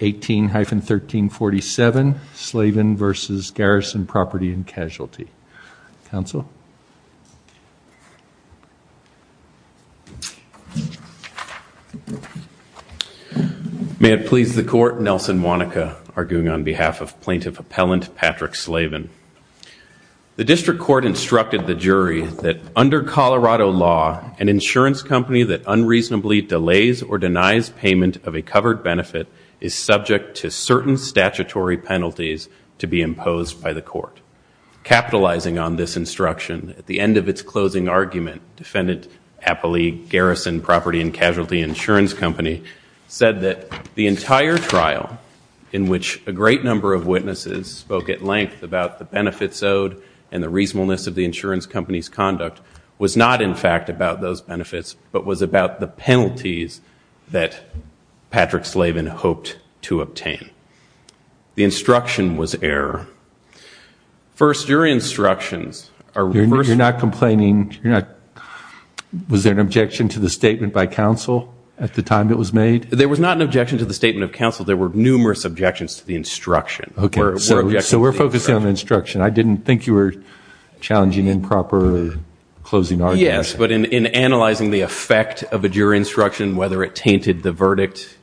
18-1347 Slavin v. Garrison Property and Casualty. Counsel? May it please the court, Nelson Wanaka arguing on behalf of plaintiff appellant Patrick Slavin. The district court instructed the jury that under Colorado law an insurance company that unreasonably delays or denies payment of a covered benefit is subject to certain statutory penalties to be imposed by the court. Capitalizing on this instruction, at the end of its closing argument defendant appellee Garrison Property and Casualty Insurance Company said that the entire trial in which a great number of witnesses spoke at length about the benefits owed and the reasonableness of the insurance company's conduct was not in fact about those benefits but was about the penalties that Patrick Slavin hoped to obtain. The instruction was error. First, your instructions are reversed. You're not complaining? Was there an objection to the statement by counsel at the time it was made? There was not an objection to the statement of counsel. There were numerous objections to the instruction. Okay, so we're focusing on instruction. I didn't think you were challenging improper closing argument. Yes, but in analyzing the effect of a jury instruction, whether it tainted the verdict,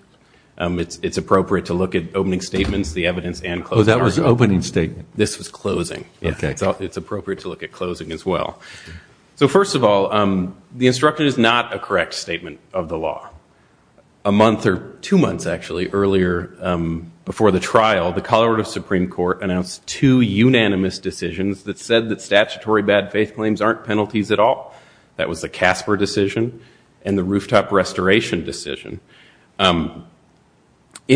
it's appropriate to look at opening statements, the evidence, and closing argument. That was an opening statement? This was closing. Okay. It's appropriate to look at closing as well. So first of all, the instruction is not a correct statement of the law. A month or two months actually earlier before the trial, the Colorado Supreme Court announced two unanimous decisions that said that was the Casper decision and the rooftop restoration decision. In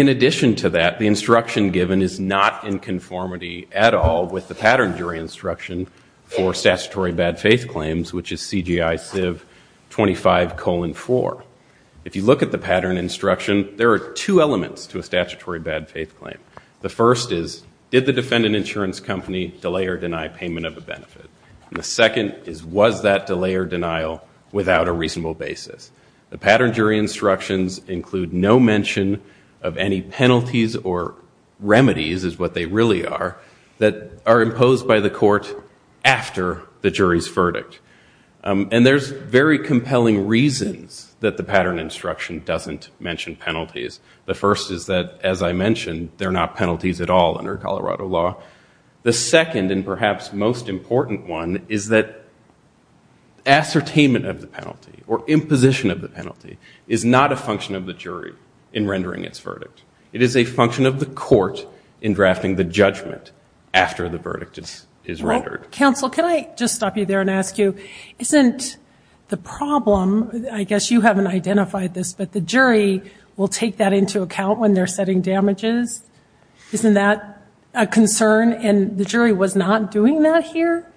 addition to that, the instruction given is not in conformity at all with the pattern jury instruction for statutory bad-faith claims, which is CGI-CIV 25 colon 4. If you look at the pattern instruction, there are two elements to a statutory bad-faith claim. The first is, did the defendant insurance company delay or denial without a reasonable basis? The pattern jury instructions include no mention of any penalties or remedies, is what they really are, that are imposed by the court after the jury's verdict. And there's very compelling reasons that the pattern instruction doesn't mention penalties. The first is that, as I mentioned, they're not penalties at all under Colorado law. The second and ascertainment of the penalty or imposition of the penalty is not a function of the jury in rendering its verdict. It is a function of the court in drafting the judgment after the verdict is rendered. Well, counsel, can I just stop you there and ask you, isn't the problem, I guess you haven't identified this, but the jury will take that into account when they're setting damages? Isn't that a concern and the jury was not doing that here?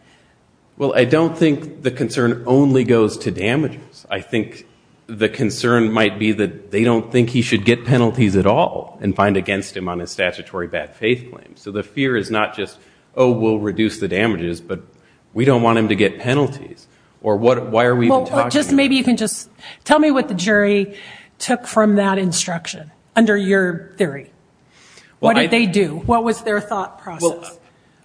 Well, I don't think the concern only goes to damages. I think the concern might be that they don't think he should get penalties at all and find against him on a statutory bad-faith claim. So the fear is not just, oh, we'll reduce the damages, but we don't want him to get penalties. Or what, why are we even talking about that? Well, just maybe you can just tell me what the jury took from that instruction under your theory. What did they do? What was their thought process?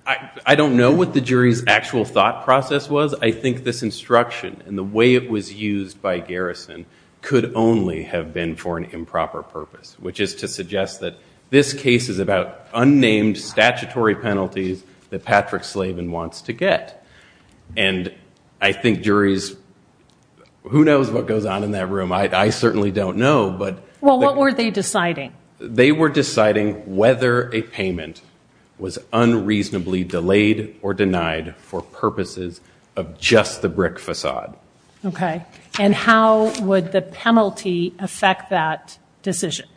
I don't know what the jury's actual thought process was. I think this instruction and the way it was used by Garrison could only have been for an improper purpose, which is to suggest that this case is about unnamed statutory penalties that Patrick Slavin wants to get. And I think juries, who knows what goes on in that room? I certainly don't know, but... Well, what were they deciding? They were deciding whether a payment was unreasonably delayed or denied for purposes of just the brick facade. Okay. And how would the penalty affect that decision?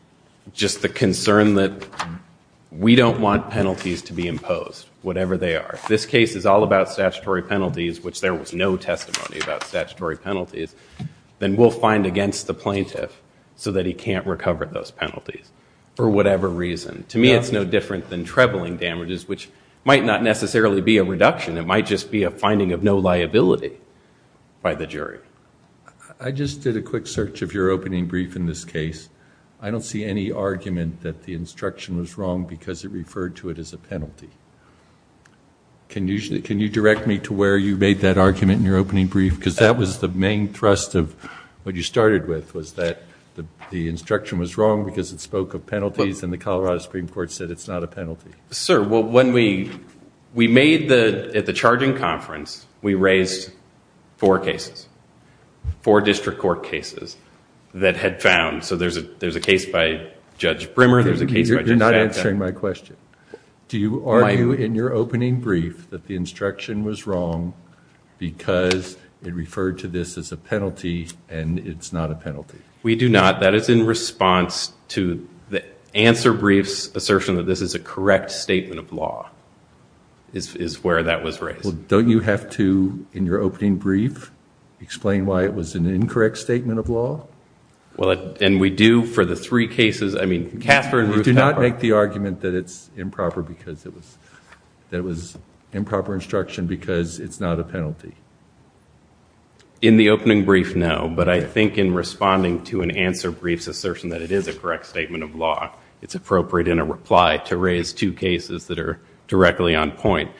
Just the concern that we don't want penalties to be imposed, whatever they are. If this case is all about statutory penalties, which there was no testimony about statutory penalties, then we'll find against the plaintiff so that he can't recover those penalties for whatever reason. To me, it's no different than trebling damages, which might not necessarily be a reduction. It might just be a finding of no liability by the jury. I just did a quick search of your opening brief in this case. I don't see any argument that the instruction was wrong because it referred to it as a penalty. Can you direct me to where you made that argument in your opening brief? Because that was the main thrust of what you started with, was that the instruction was wrong because it spoke of penalties and the Colorado Supreme Court said it's not a penalty. Sir, well, when we made the... At the charging conference, we raised four cases, four district court cases that had found... So there's a case by Judge Brimmer, there's a case by Judge Sackett. You're not answering my question. Do you argue in your opening brief that the instruction was wrong because it referred to this as a penalty and it's not a penalty? We do not. That is in response to the answer brief's assertion that this is a correct statement of law, is where that was raised. Well, don't you have to, in your opening brief, explain why it was an incorrect statement of law? Well, and we do for the three cases. I mean, Casper and Ruth... You do not make the argument that it's improper because it was... That it was improper instruction because it's not a penalty. In the opening brief, no, but I think in responding to an answer brief's assertion that it is a correct statement of law, it's appropriate in a reply to raise two cases that are directly on point.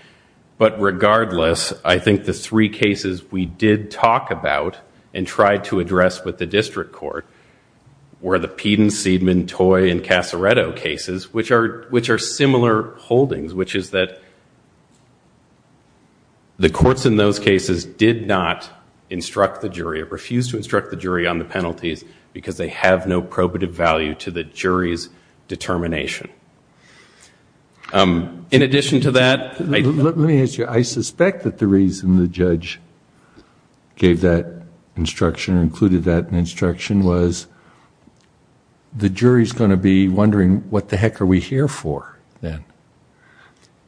But regardless, I think the three cases we did talk about and tried to address with the district court were the Peden, Seidman, Toy, and Casaretto cases, which are similar holdings, which is that the courts in those cases did not instruct the jury, refused to instruct the jury on the penalties because they have no probative value to the jury's determination. In addition to that... Let me ask you, I suspect that the reason the judge gave that instruction, included that in instruction, was the jury's going to be wondering what the courts are we here for then?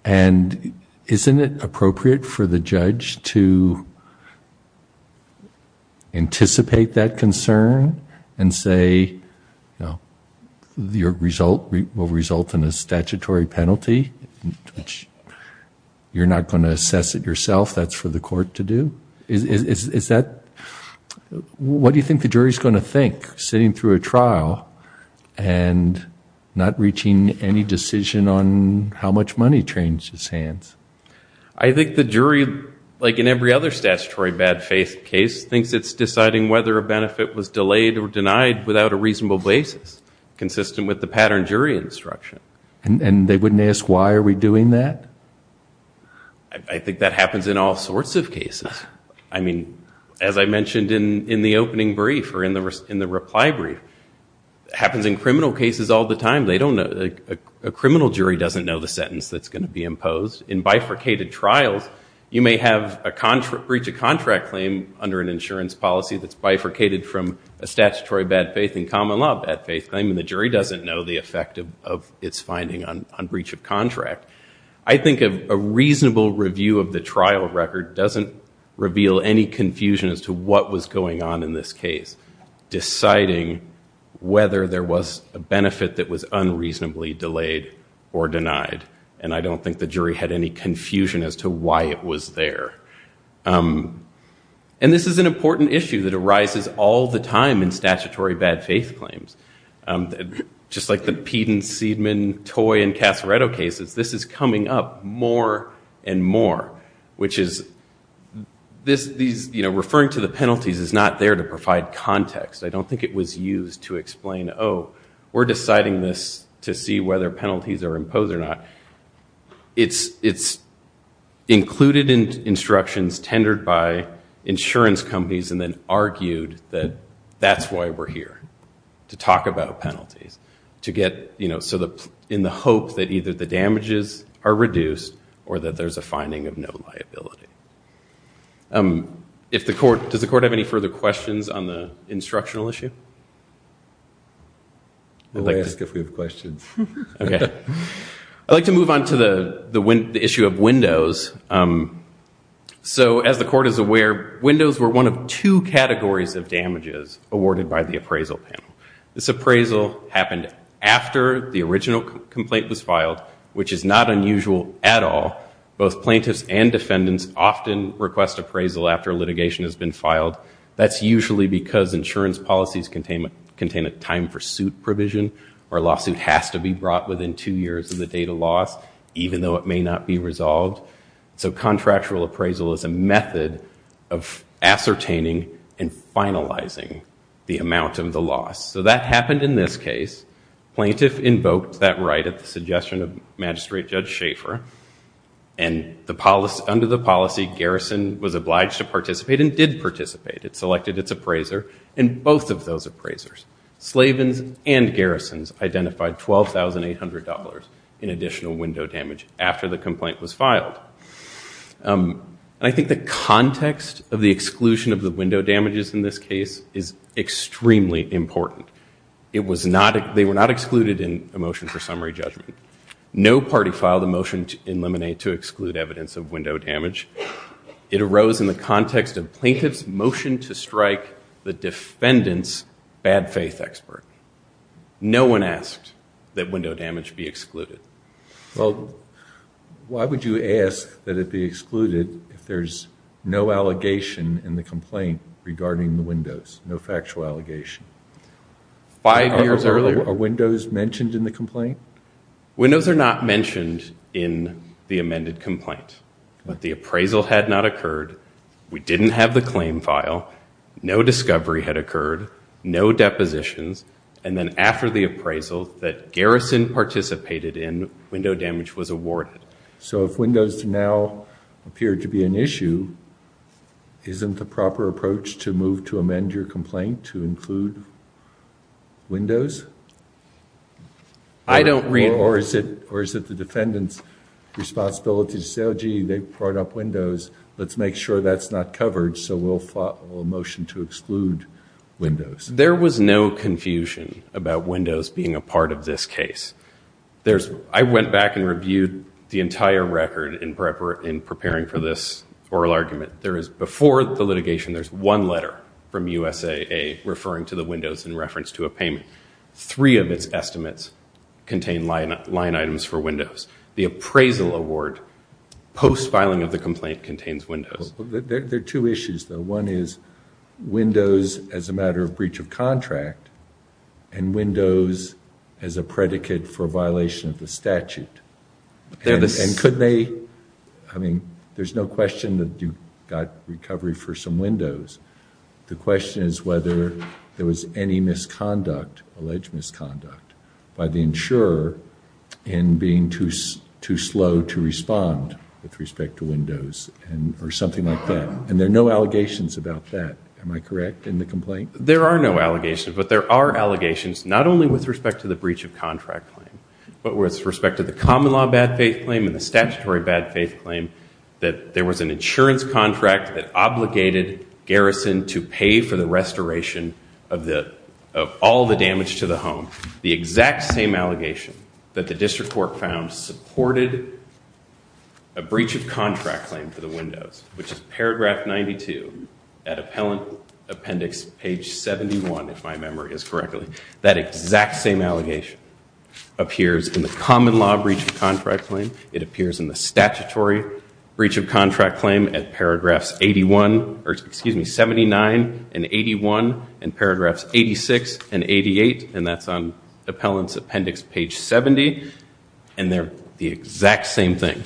And isn't it appropriate for the judge to anticipate that concern and say, you know, your result will result in a statutory penalty, which you're not going to assess it yourself, that's for the court to do? What do you think the jury's going to think, sitting through a trial and not reaching any decision on how much money trains his hands? I think the jury, like in every other statutory bad faith case, thinks it's deciding whether a benefit was delayed or denied without a reasonable basis, consistent with the pattern jury instruction. And they wouldn't ask, why are we doing that? I think that happens in all sorts of cases. I mean, as I mentioned in the opening brief or in the reply brief, it happens in criminal cases all the time. A criminal jury doesn't know the sentence that's going to be imposed. In bifurcated trials, you may have a breach of contract claim under an insurance policy that's bifurcated from a statutory bad faith and common law bad faith claim and the jury doesn't know the effect of its finding on breach of contract. I think a reasonable review of the trial record doesn't reveal any confusion as to what was going on in this case, deciding whether there was a benefit that was unreasonably delayed or denied. And I don't think the jury had any confusion as to why it was there. And this is an important issue that arises all the time in statutory bad faith claims. Just like the Peden, Seidman, Toy, and Casareto cases, this is coming up more and more, which is referring to the penalties is not there to provide context. I don't think it was used to explain, oh, we're deciding this to see whether penalties are imposed or not. It's included in instructions tendered by insurance companies and then argued that that's why we're here, to talk about penalties, in the hope that either the damages are reduced or that there's a finding of no liability. If the court, does the court have any further questions on the instructional issue? We'll ask if we have questions. OK. I'd like to move on to the issue of windows. So as the court is aware, windows were one of two categories of damages awarded by the appraisal panel. This appraisal happened after the original complaint was filed, which is not unusual at all. Both plaintiffs and defendants often request appraisal after litigation has been filed. That's usually because insurance policies contain a time for suit provision, or a lawsuit has to be brought within two years of the date of loss, even though it may not be resolved. So contractual appraisal is a method of ascertaining and finalizing the amount of the loss. So that happened in this case. Plaintiff invoked that right at the suggestion of Magistrate Judge Schaefer. And under the policy, Garrison was obliged to participate, and did participate. It selected its appraiser, and both of those appraisers, Slavin's and Garrison's, identified $12,800 in additional window damage after the complaint was filed. I think the context of the exclusion of the window damages in this case is extremely important. It was not, they were not excluded in a motion for summary judgment. No party filed a motion in Lemonade to exclude evidence of window damage. It arose in the context of plaintiff's motion to strike the defendant's bad faith expert. No one asked that window damage be excluded. Well, why would you ask that it be excluded if there's no allegation in the complaint regarding the windows? No factual allegation. Five years earlier. Are windows mentioned in the complaint? Windows are not mentioned in the amended complaint. But the appraisal had not occurred. We didn't have the claim file. No discovery had occurred. No depositions. And then after the appraisal that Garrison participated in, window damage was awarded. So if windows now appear to be an issue, isn't the proper approach to move to amend your complaint to include windows? I don't reinforce it. Or is it the defendant's responsibility to say, oh gee, they brought up windows. Let's make sure that's not covered. So we'll file a motion to exclude windows. There was no confusion about windows being a part of this case. I went back and reviewed the entire record in preparing for this oral argument. There is, before the litigation, there's one letter from USAA referring to the windows in reference to a payment. Three of its estimates contain line items for windows. The appraisal award, post-filing of the complaint, contains windows. There are two issues, though. One is windows as a matter of breach of contract, and windows as a predicate for violation of the statute. I mean, there's no question that you got recovery for some windows. The question is whether there was any alleged misconduct by the insurer in being too slow to respond with respect to windows or something like that. And there are no allegations about that. Am I correct in the complaint? There are no allegations, but there are allegations, not only with respect to the breach of contract claim, but with respect to the common law bad faith claim and the statutory bad faith claim that there was an insurance contract that obligated Garrison to pay for the restoration of all the damage to the home. The exact same allegation that the district court found supported a breach of contract claim for the windows, which is paragraph 92 at appellant appendix page 71, if my memory is correctly. That exact same allegation appears in the common law breach of contract claim. It appears in the statutory breach of contract claim at paragraphs 81, or excuse me, 79 and 81, and paragraphs 86 and 88. And that's on appellant's appendix page 70. And they're the exact same thing.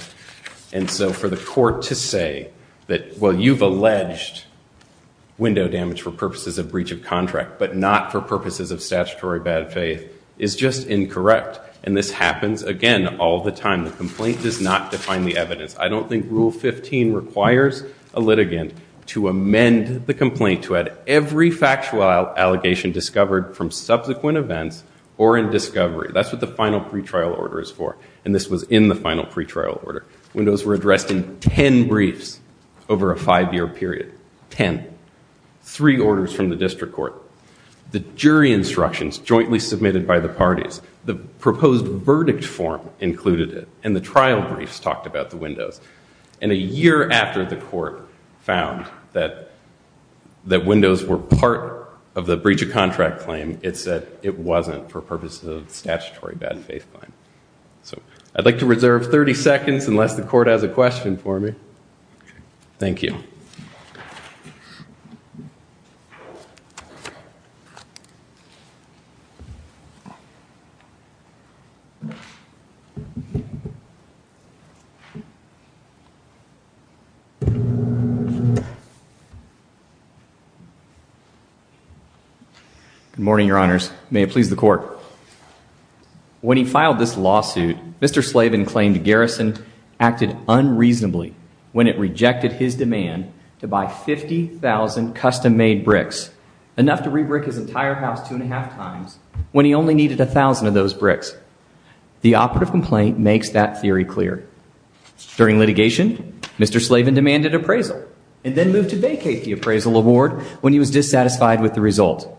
And so for the court to say that, well, you've alleged window damage for purposes of breach of contract, but not for purposes of statutory bad faith, is just incorrect. And this happens, again, all the time. The complaint does not define the evidence. I don't think rule 15 requires a litigant to amend the complaint to add every factual allegation discovered from subsequent events or in discovery. That's what the final pretrial order is for. And this was in the final pretrial order. Windows were addressed in 10 briefs over a five-year period. 10. Three orders from the district court. The jury instructions jointly submitted by the parties. The proposed verdict form included it. And the trial briefs talked about the windows. And a year after the court found that windows were part of the breach of contract claim, it said it wasn't for purposes of statutory bad faith claim. So I'd like to reserve 30 seconds, unless the court has a question for me. Thank you. Good morning, Your Honors. May it please the court. When he filed this lawsuit, Mr. Slavin claimed Garrison acted unreasonably when it rejected his demand to buy 50,000 custom-made bricks, enough to re-brick his entire house two and a half times when he only needed 1,000 of those bricks. The operative complaint makes that theory clear. During litigation, Mr. Slavin demanded appraisal and then moved to vacate the appraisal award when he was dissatisfied with the result.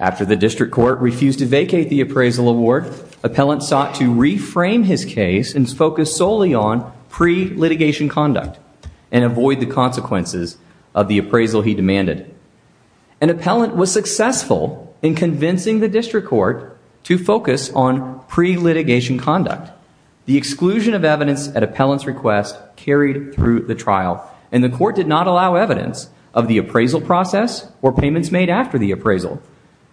After the district court refused to vacate the appraisal award, appellant sought to reframe his case and focus solely on pre-litigation conduct and avoid the consequences of the appraisal he demanded. An appellant was successful in convincing the district court to focus on pre-litigation conduct. The exclusion of evidence at appellant's request carried through the trial. And the court did not allow evidence of the appraisal process or payments made after the appraisal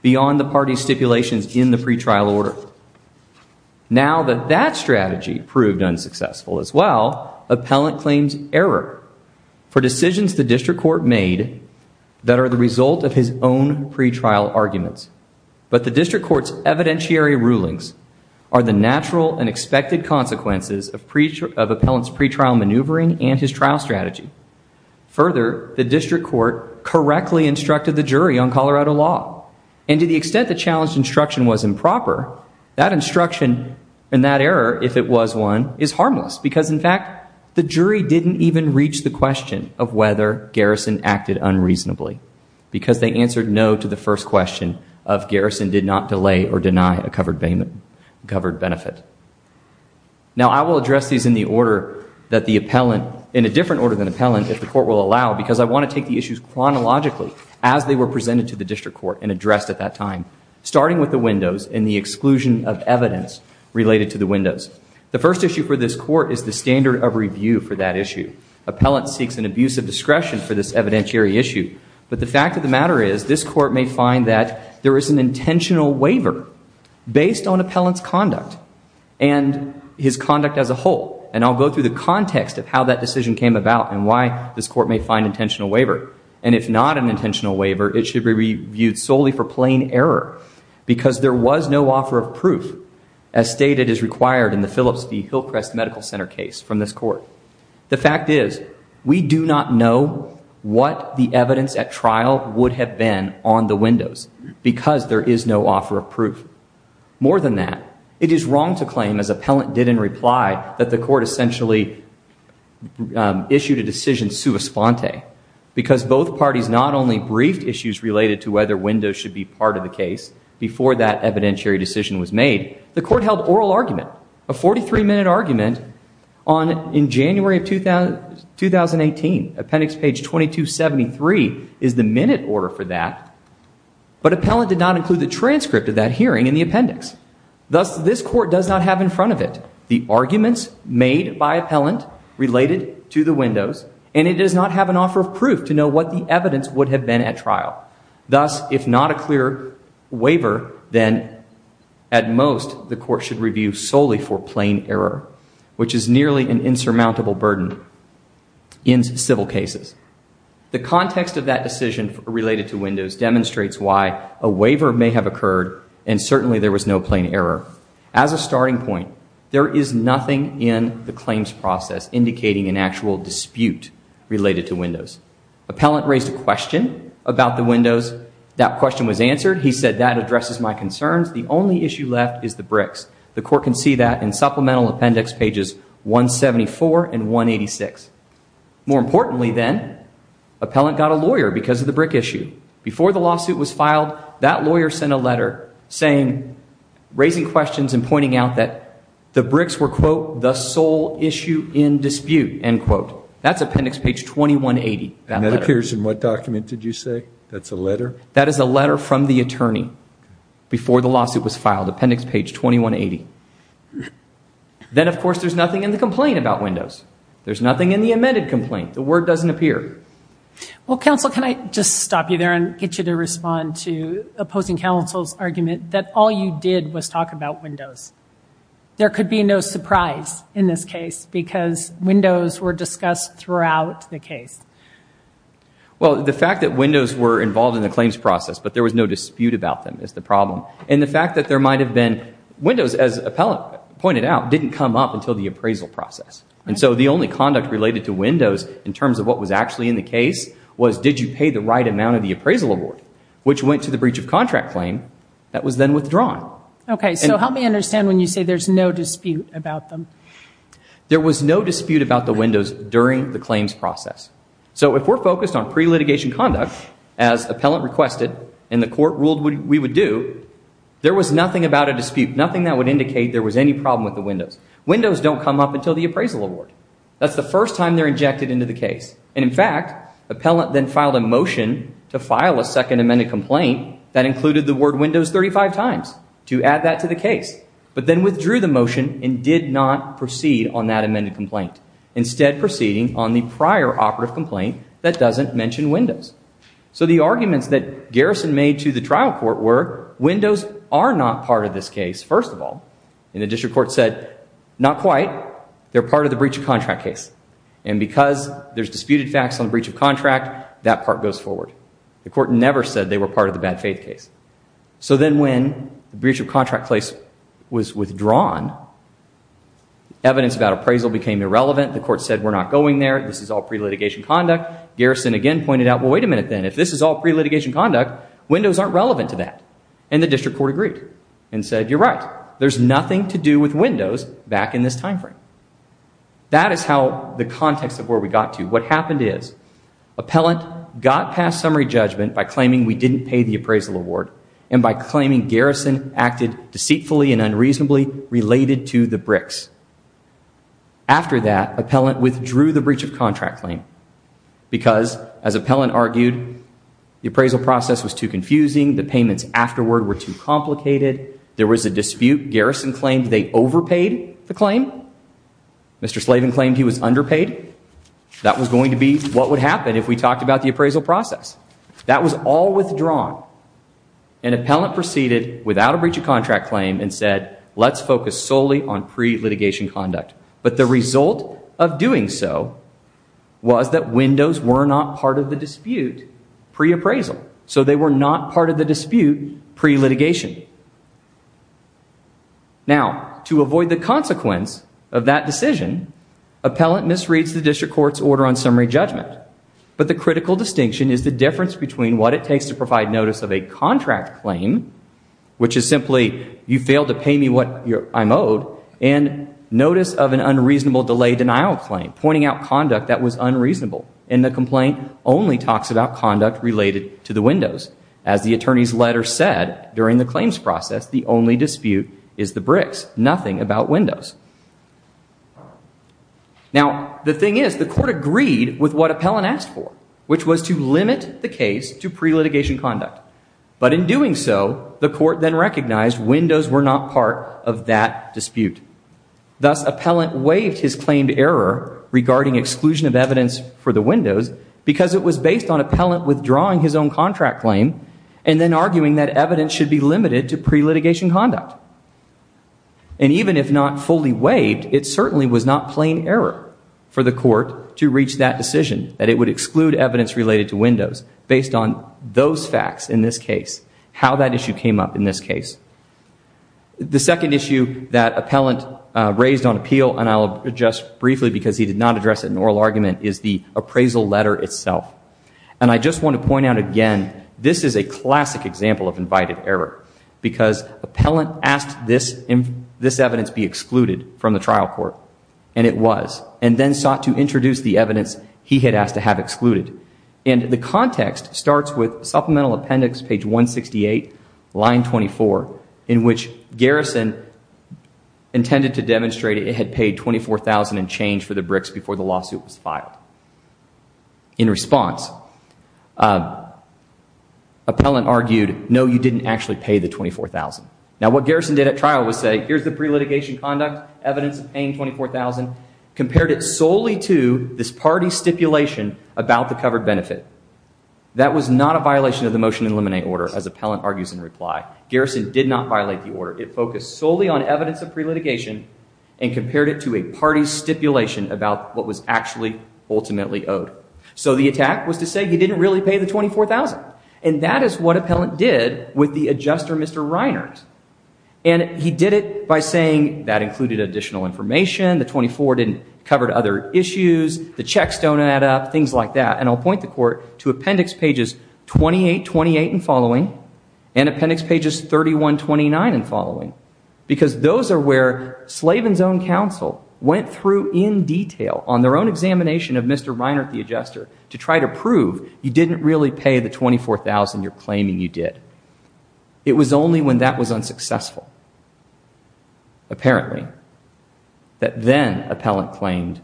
beyond the party's stipulations in the pretrial order. Now that that strategy proved unsuccessful as well, appellant claims error for decisions the district court made that are the result of his own pretrial arguments. But the district court's evidentiary rulings are the natural and expected consequences of appellant's pretrial maneuvering and his trial strategy. Further, the district court correctly instructed the jury on Colorado law. And to the extent the challenged instruction was improper, that instruction and that error, if it was one, is harmless because, in fact, the jury didn't even reach the question of whether Garrison acted unreasonably because they answered no to the first question of Garrison did not delay or deny a covered benefit. Now I will address these in a different order than appellant, if the court will allow, because I want to take the issues chronologically as they were presented to the district court and addressed at that time, starting with the windows and the exclusion of evidence related to the windows. The first issue for this court is the standard of review for that issue. Appellant seeks an abuse of discretion for this evidentiary issue. But the fact of the matter is this court may find that there is an intentional waiver based on appellant's conduct and his conduct as a whole. And I'll go through the context of how that decision came about and why this court may find intentional waiver. And if not an intentional waiver, it should be reviewed solely for plain error because there was no offer of proof, as stated is required in the Phillips v. Hillcrest Medical Center case from this court. The fact is we do not know what the evidence at trial would have been on the windows because there is no offer of proof. More than that, it is wrong to claim, as appellant did in reply, that the court essentially issued a decision sua sponte because both parties not only briefed issues related to whether windows should be part of the case before that evidentiary decision was made, the court held oral argument, a 43-minute argument, in January of 2018. Appendix page 2273 is the minute order for that. But appellant did not include the transcript of that hearing in the appendix. Thus, this court does not have in front of it the arguments made by appellant related to the windows, and it does not have an offer of proof to know what the evidence would have been at trial. Thus, if not a clear waiver, then at most, the court should review solely for plain error, which is nearly an insurmountable burden in civil cases. The context of that decision related to windows demonstrates why a waiver may have occurred, and certainly there was no plain error. As a starting point, there is nothing in the claims process indicating an actual dispute related to windows. Appellant raised a question about the windows. That question was answered. He said, that addresses my concerns. The only issue left is the bricks. The court can see that in supplemental appendix pages 174 and 186. More importantly, then, appellant got a lawyer because of the brick issue. Before the lawsuit was filed, that lawyer sent a letter raising questions and pointing out that the bricks were, quote, the sole issue in dispute, end quote. That's appendix page 2180. And that appears in what document did you say? That's a letter? That is a letter from the attorney before the lawsuit was filed, appendix page 2180. Then, of course, there's nothing in the complaint about windows. There's nothing in the amended complaint. The word doesn't appear. Well, counsel, can I just stop you there and get you to respond to opposing counsel's argument that all you did was talk about windows? There could be no surprise in this case because windows were discussed throughout the case. Well, the fact that windows were involved in the claims process, but there was no dispute about them is the problem. And the fact that there might have been windows, as appellant pointed out, didn't come up until the appraisal process. And so the only conduct related to windows in terms of what was actually in the case was did you pay the right amount of the appraisal award, which went to the breach of contract claim that was then withdrawn. OK, so help me understand when you say there's no dispute about them. There was no dispute about the windows during the claims process. So if we're focused on pre-litigation conduct, as appellant requested and the court ruled we would do, there was nothing about a dispute, nothing that would indicate there was any problem with the windows. Windows don't come up until the appraisal award. That's the first time they're injected into the case. And in fact, appellant then filed a motion to file a second amended complaint that included the word windows 35 times to add that to the case, but then withdrew the motion and did not proceed on that amended complaint, instead proceeding on the prior operative complaint that doesn't mention windows. So the arguments that Garrison made to the trial court were windows are not part of this case, first of all. And the district court said, not quite. They're part of the breach of contract case. And because there's disputed facts on breach of contract, that part goes forward. The court never said they were part of the bad faith case. So then when the breach of contract case was withdrawn, evidence about appraisal became irrelevant. The court said, we're not going there. This is all pre-litigation conduct. Garrison again pointed out, well, wait a minute then. If this is all pre-litigation conduct, windows aren't relevant to that. And the district court agreed and said, you're right. There's nothing to do with windows back in this time frame. That is how the context of where we got to. What happened is, appellant got past summary judgment by claiming we didn't pay the appraisal award and by claiming Garrison acted deceitfully and unreasonably related to the bricks. After that, appellant withdrew the breach of contract claim because, as appellant argued, the appraisal process The payments afterward were too complicated. There was a dispute. Garrison claimed they overpaid the claim. Mr. Slavin claimed he was underpaid. That was going to be what would happen if we talked about the appraisal process. That was all withdrawn. An appellant proceeded without a breach of contract claim and said, let's focus solely on pre-litigation conduct. But the result of doing so was that windows were not part of the dispute pre-appraisal. So they were not part of the dispute pre-litigation. Now, to avoid the consequence of that decision, appellant misreads the district court's order on summary judgment. But the critical distinction is the difference between what it takes to provide notice of a contract claim, which is simply, you failed to pay me what I'm owed, and notice of an unreasonable delay denial claim, pointing out conduct that was unreasonable. And the complaint only talks about conduct related to the windows. As the attorney's letter said during the claims process, the only dispute is the bricks, nothing about windows. Now, the thing is, the court agreed with what appellant asked for, which was to limit the case to pre-litigation conduct. But in doing so, the court then recognized windows were not part of that dispute. Thus, appellant waived his claimed error regarding exclusion of evidence for the windows because it was based on appellant withdrawing his own contract claim and then arguing that evidence should be limited to pre-litigation conduct. And even if not fully waived, it certainly was not plain error for the court to reach that decision, that it would exclude evidence related to windows based on those facts in this case, how that issue came up in this case. The second issue that appellant raised on appeal, and I'll address briefly because he did not address it in oral argument, is the appraisal letter itself. And I just want to point out again, this is a classic example of invited error because appellant asked this evidence be excluded from the trial court, and it was, and then sought to introduce the evidence he had asked to have excluded. And the context starts with Supplemental Appendix, page 168, line 24, in which Garrison intended to demonstrate it had paid $24,000 in change for the bricks before the lawsuit was filed. In response, appellant argued, no, you didn't actually pay the $24,000. Now, what Garrison did at trial was say, here's the pre-litigation conduct, evidence of paying $24,000, compared it solely to this party stipulation about the covered benefit. That was not a violation of the Motion to Eliminate Order, as appellant argues in reply. Garrison did not violate the order. It focused solely on evidence of pre-litigation and compared it to a party stipulation about what was actually ultimately owed. So the attack was to say he didn't really pay the $24,000. And that is what appellant did with the adjuster, Mr. Reinert. And he did it by saying that included additional information, the 24 didn't cover other issues, the checks don't add up, things like that. And I'll point the court to Appendix pages 28, 28 and following, and Appendix pages 31, 29 and following, because those are where Slavin's own counsel went through in detail on their own examination of Mr. Reinert the adjuster to try to prove you didn't really pay the $24,000 you're claiming you did. It was only when that was unsuccessful, apparently, that then appellant claimed,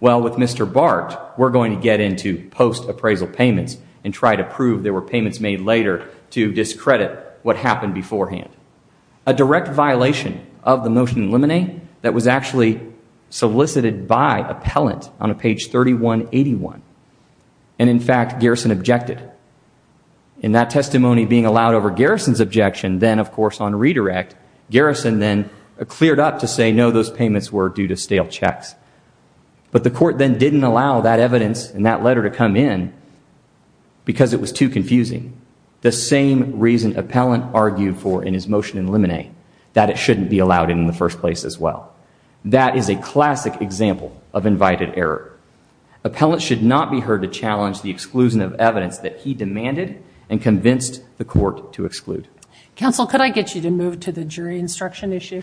well, with Mr. Bart, we're going to get into post-appraisal payments and try to prove there were payments made later to discredit what happened beforehand. A direct violation of the Motion to Eliminate that was actually solicited by appellant on a page 3181. And in fact, Garrison objected. In that testimony being allowed over Garrison's objection, then, of course, on redirect, Garrison then cleared up to say, no, those payments were due to stale checks. But the court then didn't allow that evidence in that letter to come in because it was too confusing. The same reason appellant argued for in his Motion to Eliminate, that it shouldn't be allowed in the first place as well. That is a classic example of invited error. Appellant should not be heard to challenge the exclusion of evidence that he demanded and convinced the court to exclude. Counsel, could I get you to move to the jury instruction issue?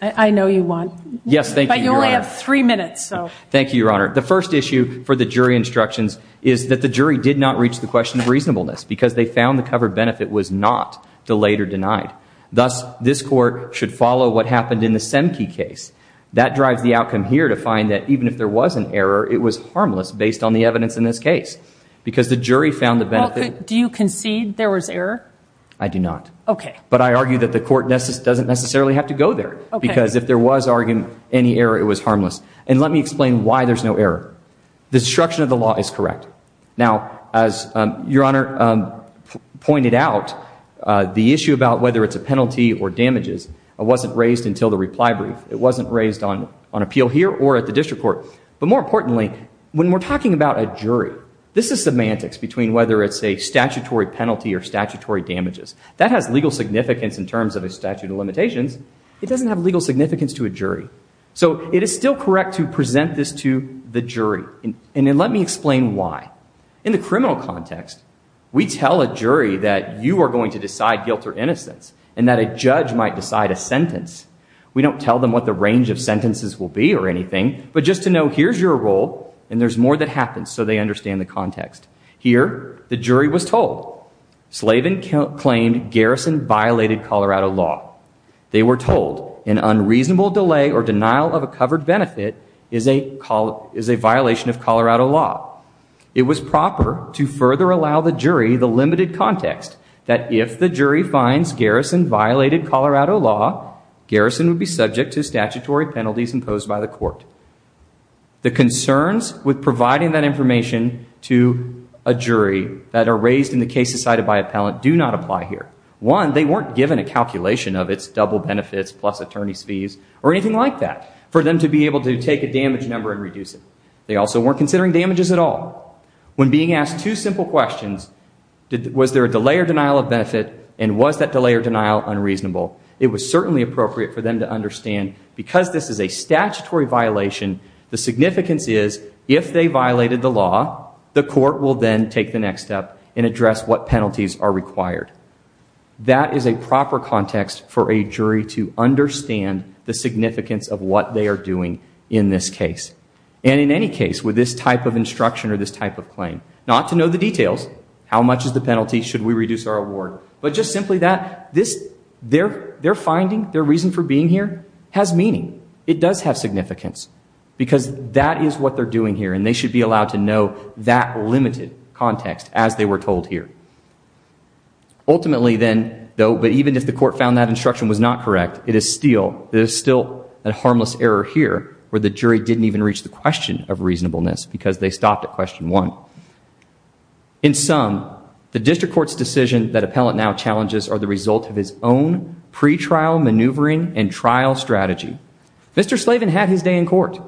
I know you want. Yes, thank you, Your Honor. But you only have three minutes, so. Thank you, Your Honor. The first issue for the jury instructions is that the jury did not reach the question of reasonableness because they found the covered benefit was not delayed or denied. Thus, this court should follow what happened in the Semke case. That drives the outcome here to find that even if there was an error, it was harmless based on the evidence in this case. Because the jury found the benefit. Do you concede there was error? I do not. But I argue that the court doesn't necessarily have to go there. Because if there was any error, it was harmless. And let me explain why there's no error. The structure of the law is correct. Now, as Your Honor pointed out, the issue about whether it's a penalty or damages wasn't raised until the reply brief. It wasn't raised on appeal here or at the district court. But more importantly, when we're talking about a jury, this is semantics between whether it's a statutory penalty or statutory damages. That has legal significance in terms of a statute of limitations. It doesn't have legal significance to a jury. So it is still correct to present this to the jury. And then let me explain why. In the criminal context, we tell a jury that you are going to decide guilt or innocence and that a judge might decide a sentence. We don't tell them what the range of sentences will be or anything. But just to know, here's your role. And there's more that happens so they understand the context. Here, the jury was told Slavin claimed Garrison violated Colorado law. They were told an unreasonable delay or denial It was proper to further allow the jury the limited context that if the jury finds Garrison violated Colorado law, Garrison would be subject to statutory penalties imposed by the court. The concerns with providing that information to a jury that are raised in the case decided by appellant do not apply here. One, they weren't given a calculation of its double benefits plus attorney's fees or anything like that for them to be able to take a damage number and reduce it. They also weren't considering damages at all. When being asked two simple questions, was there a delay or denial of benefit and was that delay or denial unreasonable, it was certainly appropriate for them to understand, because this is a statutory violation, the significance is if they violated the law, the court will then take the next step and address what penalties are required. That is a proper context for a jury to understand the significance of what they are doing in this case. And in any case, with this type of instruction or this type of claim, not to know the details, how much is the penalty, should we reduce our award, but just simply that their finding, their reason for being here, has meaning. It does have significance. Because that is what they're doing here and they should be allowed to know that limited context as they were told here. Ultimately then, though, but even if the court found that instruction was not correct, there's still a harmless error here where the jury didn't even reach the question of reasonableness because they stopped at question one. In sum, the district court's decision that appellant now challenges are the result of his own pretrial maneuvering and trial strategy. Mr. Slavin had his day in court.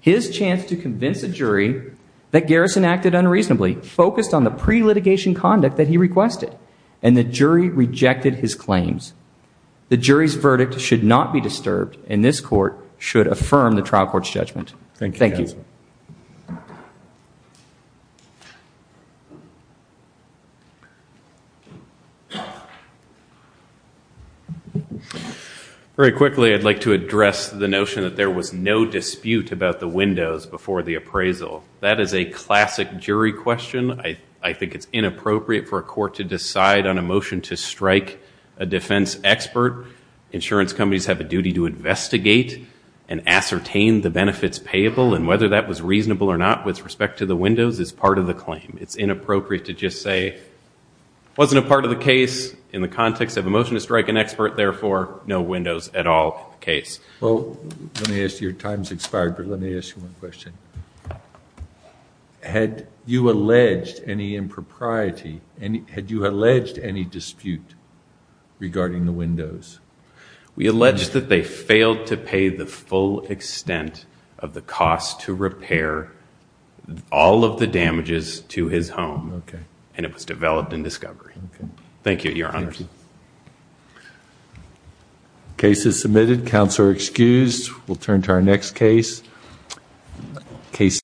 His chance to convince a jury that Garrison acted unreasonably focused on the pre-litigation conduct that he requested. And the jury rejected his claims. The jury's verdict should not be disturbed and this court should affirm the trial court's judgment. Thank you. Very quickly, I'd like to address the notion that there was no dispute about the windows before the appraisal. That is a classic jury question. I think it's inappropriate for a court to decide on a motion to strike a defense expert. Insurance companies have a duty to investigate and ascertain the benefits payable and whether that was reasonable or not with respect to the windows is part of the claim. It's inappropriate to just say, wasn't a part of the case in the context of a motion to strike an expert, therefore, no windows at all case. Well, let me ask you, your time's expired, but let me ask you one question. Had you alleged any impropriety? Had you alleged any dispute regarding the windows? We allege that they failed to pay the full extent of the cost to repair all of the damages to his home and it was developed in discovery. Thank you, your honors. Case is submitted. Counsel are excused. We'll turn to our next case.